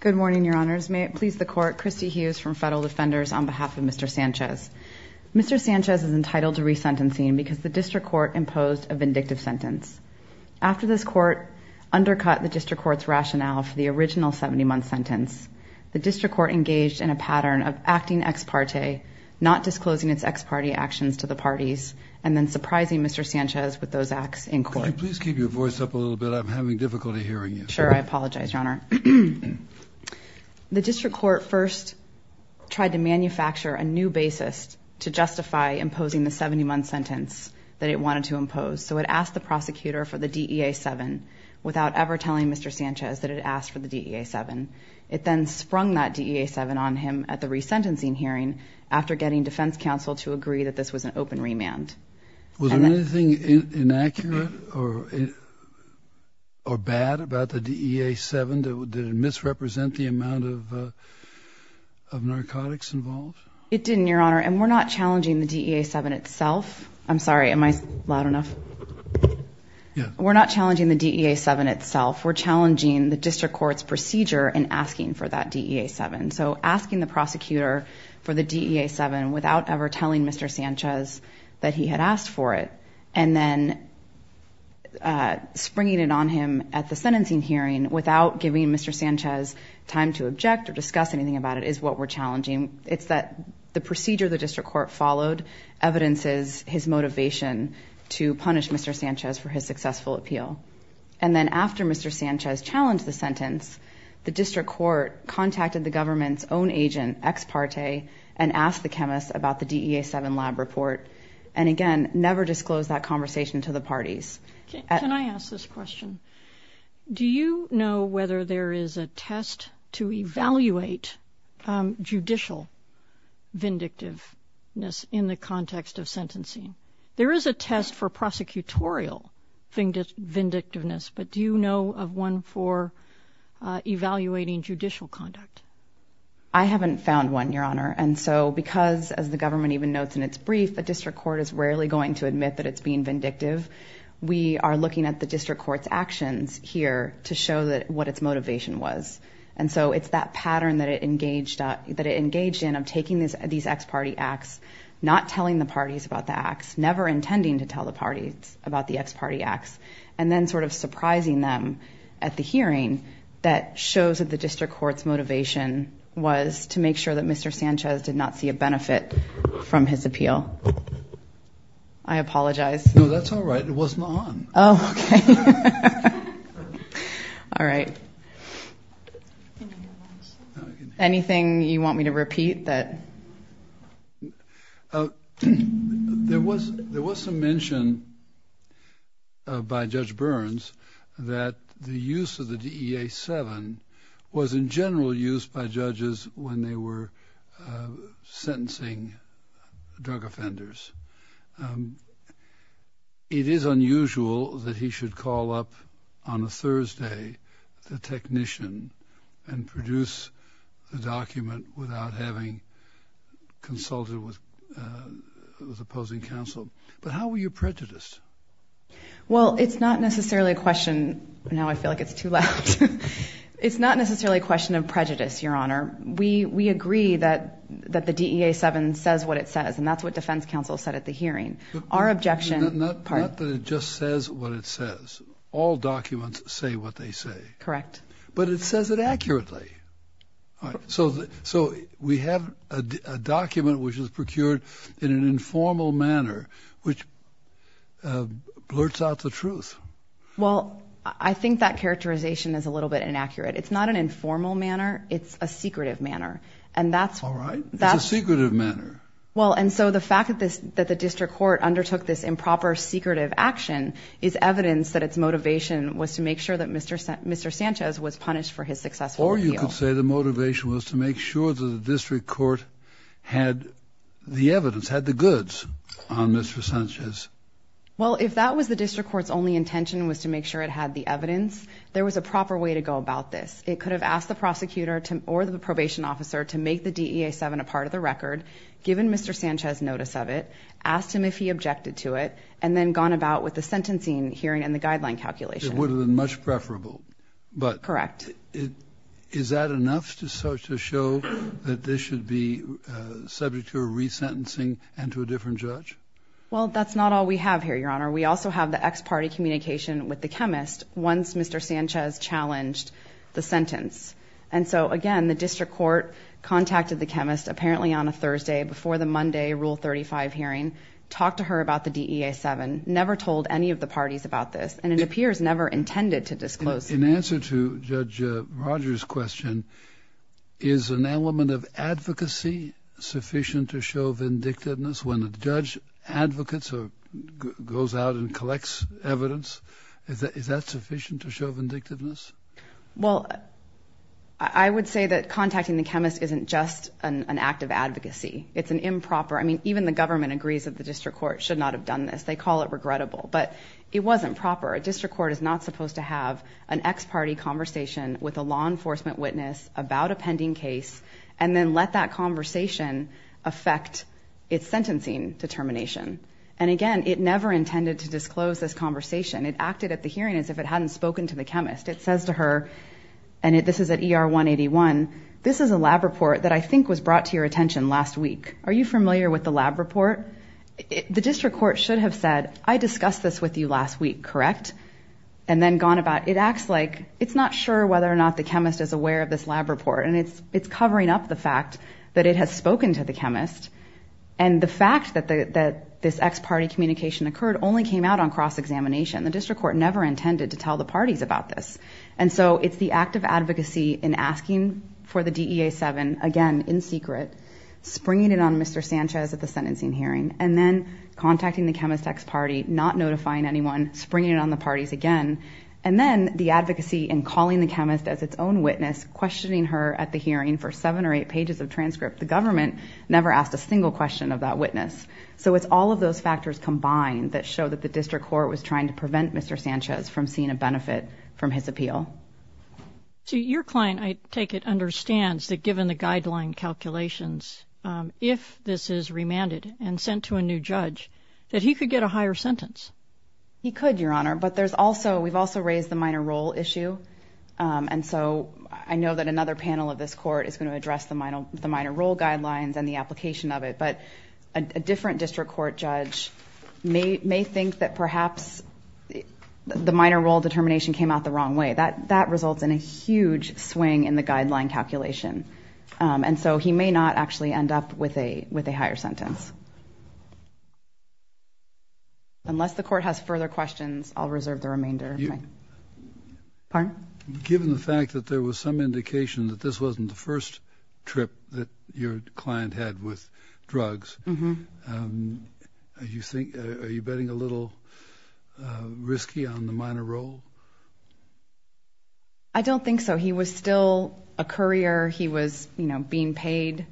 Good morning, Your Honors. May it please the Court, Christy Hughes from Federal Defenders on behalf of Mr. Sanchez. Mr. Sanchez is entitled to resentencing because the District Court imposed a vindictive sentence. After this Court undercut the District Court's rationale for the original 70-month sentence, the District Court engaged in a pattern of acting ex parte, not disclosing its ex parte actions to the parties, and then surprising Mr. Sanchez with those acts in court. Could you please keep your voice up a little bit? I'm having difficulty hearing you. Sure, I apologize, Your Honor. The District Court first tried to manufacture a new basis to justify imposing the 70-month sentence that it wanted to impose. So it asked the prosecutor for the DEA 7 without ever telling Mr. Sanchez that it asked for the DEA 7. It then sprung that DEA 7 on him at the resentencing hearing after getting defense counsel to agree that this was an open remand. Was there anything inaccurate or bad about the DEA 7? Did it misrepresent the amount of narcotics involved? It didn't, Your Honor, and we're not challenging the DEA 7 itself. I'm sorry, am I loud enough? We're not challenging the DEA 7 itself. We're challenging the District Court's procedure in asking for that DEA 7. So asking the prosecutor for the DEA 7 without ever telling Mr. Sanchez that he had asked for it, and then springing it on him at the sentencing hearing without giving Mr. Sanchez time to object or discuss anything about it is what we're challenging. It's that the procedure the District Court followed evidences his motivation to punish Mr. Sanchez for his successful appeal. And then after Mr. Sanchez challenged the sentence, the District Court contacted the government's own agent, Ex Parte, and asked the chemist about the DEA 7 lab report, and again, never disclosed that conversation to the parties. Can I ask this question? Do you know whether there is a test to evaluate judicial vindictiveness in the context of sentencing? There is a test for prosecutorial vindictiveness, but do you know of one for evaluating judicial conduct? I haven't found one, Your Honor, and so because, as the government even notes in its brief, the District Court is rarely going to admit that it's being vindictive, we are looking at the District Court's actions here to show what its motivation was. And so it's that telling the parties about the acts, never intending to tell the parties about the Ex Parte acts, and then sort of surprising them at the hearing that shows that the District Court's motivation was to make sure that Mr. Sanchez did not see a benefit from his appeal. I apologize. No, that's all right. It wasn't on. Oh, okay. All right. Anything you want me to repeat that... There was some mention by Judge Burns that the use of the DEA-7 was in general used by judges when they were sentencing drug offenders. It is unusual that he should call up on a condition and produce a document without having consulted with opposing counsel. But how were you prejudiced? Well, it's not necessarily a question... Now I feel like it's too loud. It's not necessarily a question of prejudice, Your Honor. We agree that the DEA-7 says what it says, and that's what defense counsel said at the hearing. Our objection... Not that it just says what it says. All documents say what they say. Correct. But it says it accurately. So we have a document which is procured in an informal manner, which blurts out the truth. Well, I think that characterization is a little bit inaccurate. It's not an informal manner. It's a secretive manner. And that's... All right. It's a secretive manner. Well, and so the fact that the District Court undertook this improper secretive action is evidence that its motivation was to make sure that Mr. Sanchez was punished for his successful appeal. Or you could say the motivation was to make sure that the District Court had the evidence, had the goods on Mr. Sanchez. Well, if that was the District Court's only intention was to make sure it had the evidence, there was a proper way to go about this. It could have asked the prosecutor or the probation officer to make the DEA-7 a part of the record, given Mr. Sanchez notice of it, asked him if he objected to it, and then gone about with the sentencing hearing and the guideline calculation. It would have been much preferable. Correct. But is that enough to show that this should be subject to a resentencing and to a different judge? Well, that's not all we have here, Your Honor. We also have the ex parte communication with the chemist once Mr. Sanchez challenged the sentence. And so, again, the District Court contacted the chemist, apparently on a Thursday before the Monday Rule 35 hearing, talked to her about the DEA-7, never told any of the parties about this, and it appears never intended to disclose it. In answer to Judge Rogers' question, is an element of advocacy sufficient to show vindictiveness when a judge advocates or goes out and collects evidence? Is that sufficient to show vindictiveness? Well, I would say that contacting the chemist isn't just an act of advocacy. It's an improper – I mean, even the government agrees that the District Court should not have done this. They call it regrettable. But it wasn't proper. A District Court is not supposed to have an ex parte conversation with a law enforcement witness about a pending case and then let that conversation affect its sentencing determination. And again, it never intended to disclose this conversation. It acted at the hearing as if it hadn't spoken to the chemist. It says to her, and this is at ER 181, this is a lab report that I think was brought to your attention last week. Are you familiar with the lab report? The District Court should have said, I discussed this with you last week, correct? And then gone about – it acts like it's not sure whether or not the chemist is aware of this lab report. And it's covering up the fact that it has spoken to the chemist. And the fact that this ex parte communication occurred only came out on cross-examination. The District Court never intended to tell the parties about this. And so it's the act of advocacy in asking for the DEA-7, again, in secret, springing it on Mr. Sanchez at the sentencing hearing, and then contacting the chemist ex parte, not notifying anyone, springing it on the parties again. And then the advocacy in calling the chemist as its own witness, questioning her at the hearing for seven or eight pages of transcript. The government never asked a single question of that witness. So it's all of those factors combined that show that the District Court was trying to protect Mr. Sanchez from seeing a benefit from his appeal. So your client, I take it, understands that given the guideline calculations, if this is remanded and sent to a new judge, that he could get a higher sentence? He could, Your Honor. But there's also – we've also raised the minor role issue. And so I know that another panel of this Court is going to address the minor role guidelines and the application of it. But a different District Court judge may think that perhaps the minor role determination came out the wrong way. That results in a huge swing in the guideline calculation. And so he may not actually end up with a higher sentence. Unless the Court has further questions, I'll reserve the remainder of my time. Pardon? Given the fact that there was some indication that this wasn't the first trip that your client had with drugs, are you betting a little risky on the minor role? I don't think so. He was still a courier. He was being paid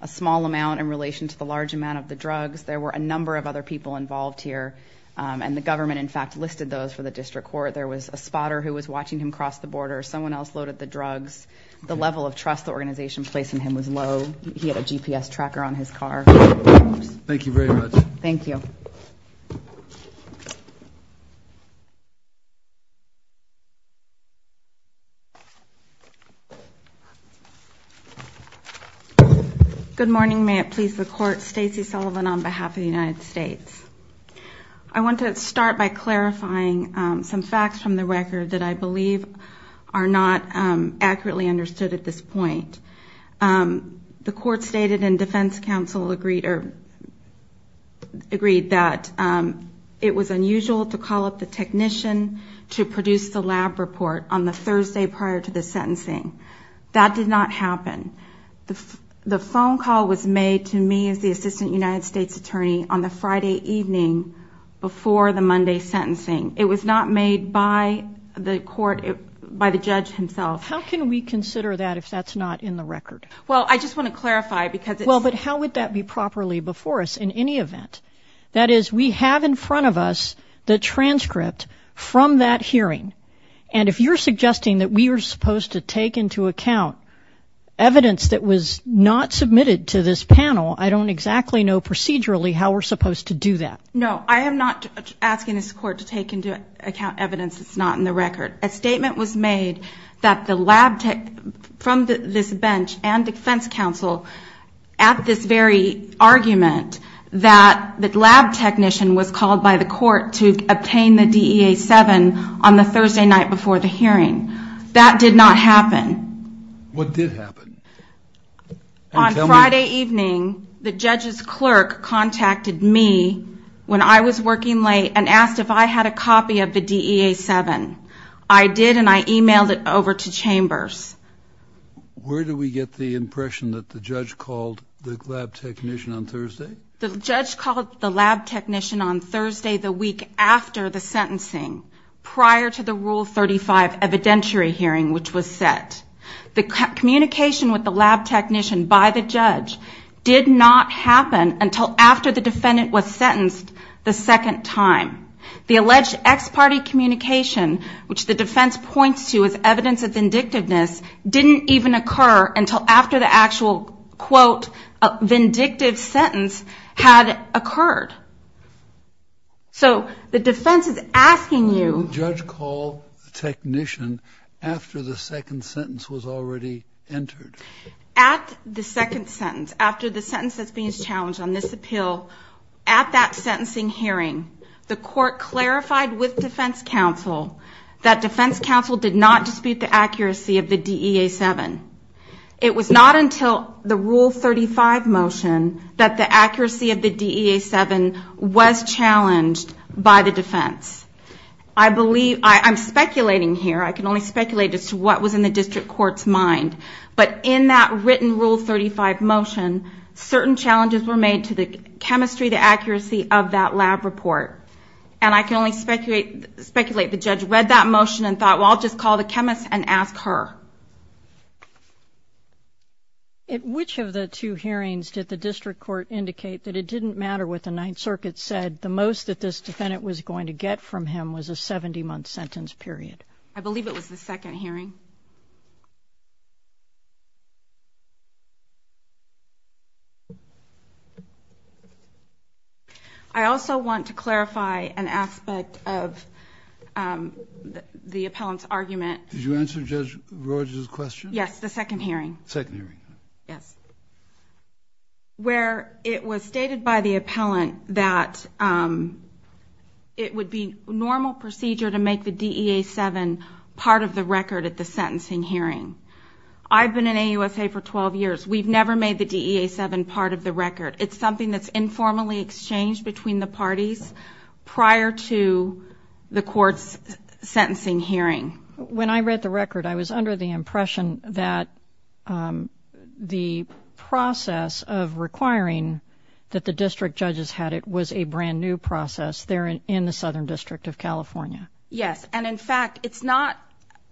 a small amount in relation to the large amount of the drugs. There were a number of other people involved here. And the government, in fact, listed those for the District Court. There was a spotter who was watching him cross the border. Someone else loaded the drugs. The level of trust the organization placed in him was low. He had a GPS tracker on his car. Good morning. May it please the Court. Stacey Sullivan on behalf of the United States. I want to start by clarifying some facts from the record that I believe are not accurately understood at this point. The Court stated and Defense Counsel agreed that it was unusual to call up the technician to produce the lab report on the Thursday prior to the sentencing. That did not happen. The phone call was made to me as the Assistant United States Attorney on the Friday evening before the Monday sentencing. It was not made by the Court, by the judge himself. How can we consider that if that's not in the record? Well, I just want to clarify because it's Well, but how would that be properly before us in any event? That is, we have in front of us the transcript from that hearing. And if you're suggesting that we are supposed to take into account evidence that was not submitted to this panel, I don't exactly know procedurally how we're supposed to do that. No. I am not asking this Court to take into account evidence that's not in the record. A statement was made from this bench and Defense Counsel at this very argument that the lab technician was called by the Court to obtain the DEA-7 on the Thursday night before the hearing. That did not happen. What did happen? On Friday evening, the judge's clerk contacted me when I was working late and asked if I had a copy of the DEA-7. I did and I emailed it over to Chambers. Where do we get the impression that the judge called the lab technician on Thursday? The judge called the lab technician on Thursday, the week after the sentencing, prior to the Rule 35 evidentiary hearing, which was set. The communication with the lab technician by the judge did not happen until after the defendant was sentenced the second time. The alleged ex-party communication, which the defense points to as evidence of vindictiveness, didn't even occur until after the actual, quote, vindictive sentence had occurred. So the defense is asking you... When did the judge call the technician after the second sentence was already entered? At the second sentence, after the sentence that's being challenged on this appeal, at that sentencing hearing, the court clarified with defense counsel that defense counsel did not dispute the accuracy of the DEA-7. It was not until the Rule 35 motion that the accuracy of the DEA-7 was challenged by the defense. I believe, I'm speculating here, I can only speculate as to what was in the district court's mind, but in that written Rule 35 motion, certain challenges were made to the chemistry, the accuracy of that lab report. And I can only speculate the judge read that motion and thought, well, I'll just call the chemist and ask her. Which of the two hearings did the district court indicate that it didn't matter what the Ninth Circuit said, the most that this defendant was going to get from him was a 70-month sentence period? I believe it was the second hearing. I also want to clarify an aspect of the appellant's argument. Did you answer Judge Rogers' question? Yes, the second hearing. Second hearing. Yes. Where it was stated by the appellant that it would be normal procedure to make the DEA-7 part of the record at the sentencing hearing. I've been in AUSA for 12 years. We've never made the DEA-7 part of the record. It's something that's informally exchanged between the parties prior to the court's sentencing hearing. When I read the record, I was under the impression that the process of requiring that the district judges had it was a brand new process there in the Southern District of California. Yes. And in fact, it's not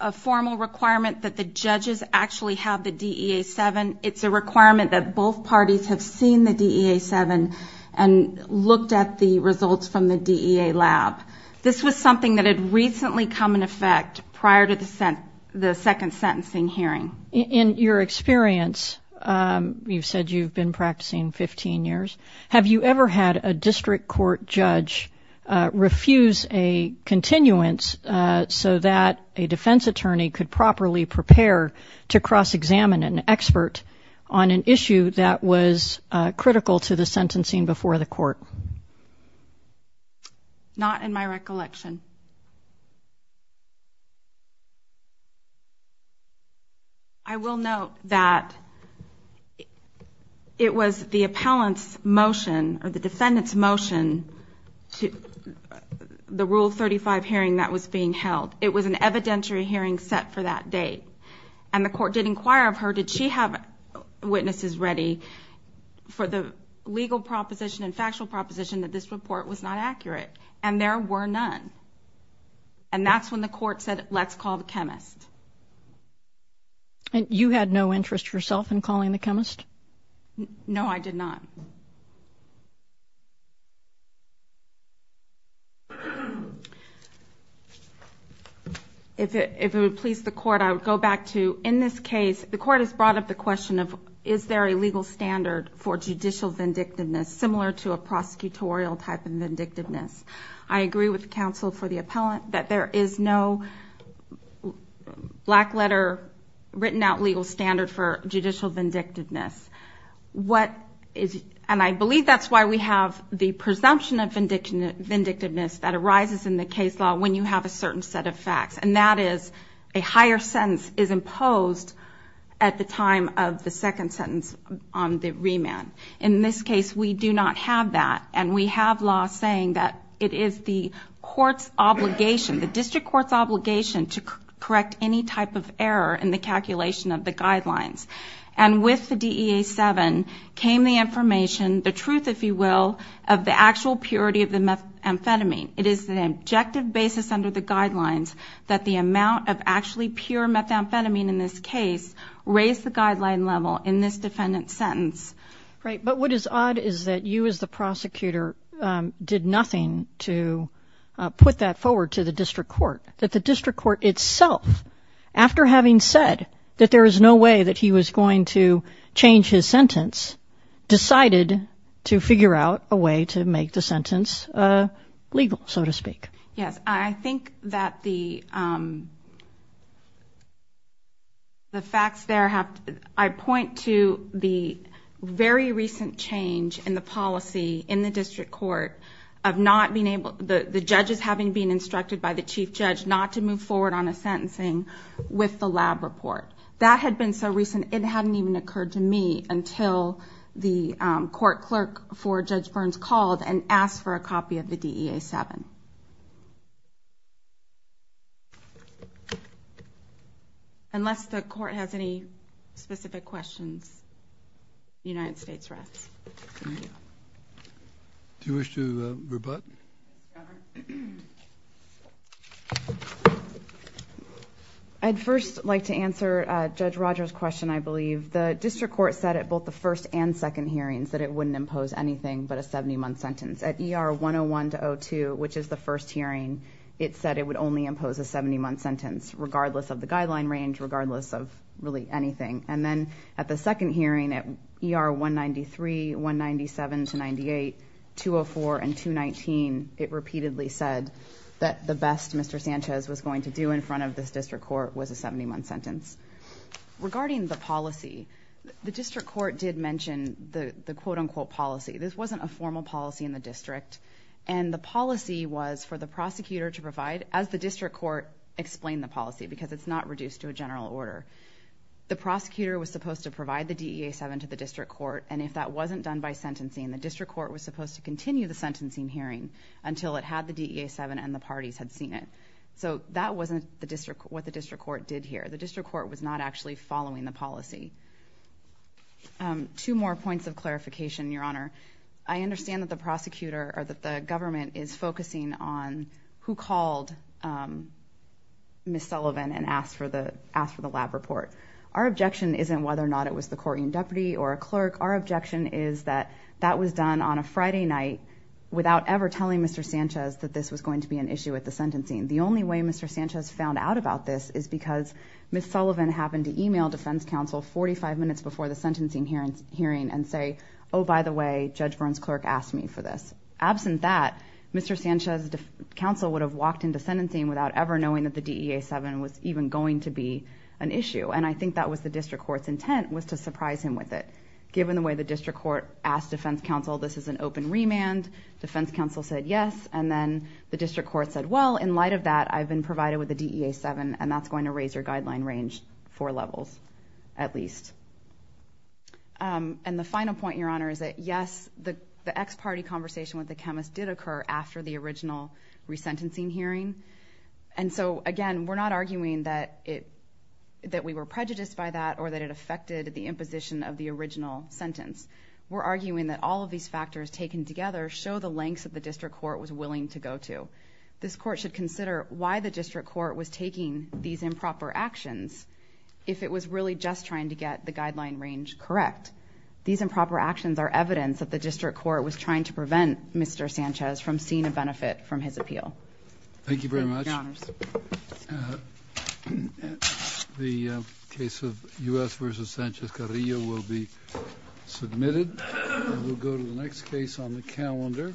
a formal requirement that the judges actually have the DEA-7. It's a requirement that both parties have seen the DEA-7 and looked at the results from the DEA lab. This was something that had recently come in effect prior to the second sentencing hearing. In your experience, you've said you've been practicing 15 years. Have you ever had a district court judge refuse a continuance so that a defense attorney could properly prepare to on an issue that was critical to the sentencing before the court? Not in my recollection. I will note that it was the appellant's motion or the defendant's motion to the Rule 35 hearing that was being held. It was an evidentiary hearing set for that date. And the court did have witnesses ready for the legal proposition and factual proposition that this report was not accurate. And there were none. And that's when the court said, let's call the chemist. You had no interest yourself in calling the chemist? No, I did not. If it would please the court, I would go back to, in this case, the court has brought up the question of, is there a legal standard for judicial vindictiveness, similar to a prosecutorial type of vindictiveness? I agree with counsel for the appellant that there is no black letter written out legal standard for judicial vindictiveness. And I believe that's why we have the presumption of vindictiveness that arises in the case law when you have a certain set of facts. And that is, a higher sentence is imposed at the time of the second sentence on the remand. In this case, we do not have that. And we have law saying that it is the court's obligation, the district court's obligation to correct any type of truth, if you will, of the actual purity of the methamphetamine. It is an objective basis under the guidelines that the amount of actually pure methamphetamine in this case raise the guideline level in this defendant's sentence. Right, but what is odd is that you as the prosecutor did nothing to put that forward to the district court. That the district court itself, after having said that there is no way that he was going to change his sentence, decided to figure out a way to make the sentence legal, so to speak. Yes, I think that the facts there have, I point to the very recent change in the policy in the district court of not being able, the judges having been instructed by the chief judge not to move forward on a sentencing with the lab report. That had been so recent, it hadn't even occurred to me until the court clerk for Judge Burns called and asked for a copy of the DEA-7. Unless the court has any specific questions, United States Refs. Do you wish to rebut? I'd first like to answer Judge Rogers' question, I believe. The district court said at both the first and second hearings that it wouldn't impose anything but a 70-month sentence. At ER 101-02, which is the first hearing, it said it would only impose a 70-month sentence regardless of the guideline range, regardless of really anything. Then at the second hearing at ER 193, 197-98, 204, and 219, it repeatedly said that the best Mr. Sanchez was going to do in front of this district court was a 70-month sentence. Regarding the policy, the district court did mention the quote-unquote policy. This wasn't a formal policy in the district, and the policy was for the prosecutor to provide, as the district court explained the policy, because it's not reduced to a general order. The prosecutor was supposed to provide the DEA-7 to the district court, and if that wasn't done by sentencing, the district court was supposed to continue the sentencing hearing until it had the DEA-7 and the parties had seen it. That wasn't what the district court did here. The district court was not actually following the policy. Two more points of clarification, Your Honor. I understand that the government is focusing on who called Ms. Sullivan and asked for the lab report. Our objection is that Ms. Sullivan isn't, whether or not it was the court in-deputy or a clerk, our objection is that that was done on a Friday night without ever telling Mr. Sanchez that this was going to be an issue with the sentencing. The only way Mr. Sanchez found out about this is because Ms. Sullivan happened to email defense counsel 45 minutes before the sentencing hearing and say, oh, by the way, Judge Burns' clerk asked me for this. Absent that, Mr. Sanchez's counsel would have walked into sentencing without ever knowing that the DEA-7 was even going to be an issue, and I think that was the district court's intent, was to surprise him with it. Given the way the district court asked defense counsel this is an open remand, defense counsel said yes, and then the district court said, well, in light of that, I've been provided with the DEA-7 and that's going to raise your guideline range four levels, at least. And the final point, Your Honor, is that yes, the ex-party conversation with the chemist did occur after the original resentencing hearing, and so, again, we're not arguing that we were prejudiced by that or that it affected the imposition of the original sentence. We're arguing that all of these factors taken together show the lengths that the district court was willing to go to. This court should consider why the district court was taking these improper actions if it was really just trying to get the guideline range correct. These improper actions are evidence that the district court was trying to prevent Mr. Sanchez from seeing a benefit from his appeal. Thank you very much. The case of U.S. v. Sanchez-Carrillo will be submitted, and we'll go to the next case on the calendar.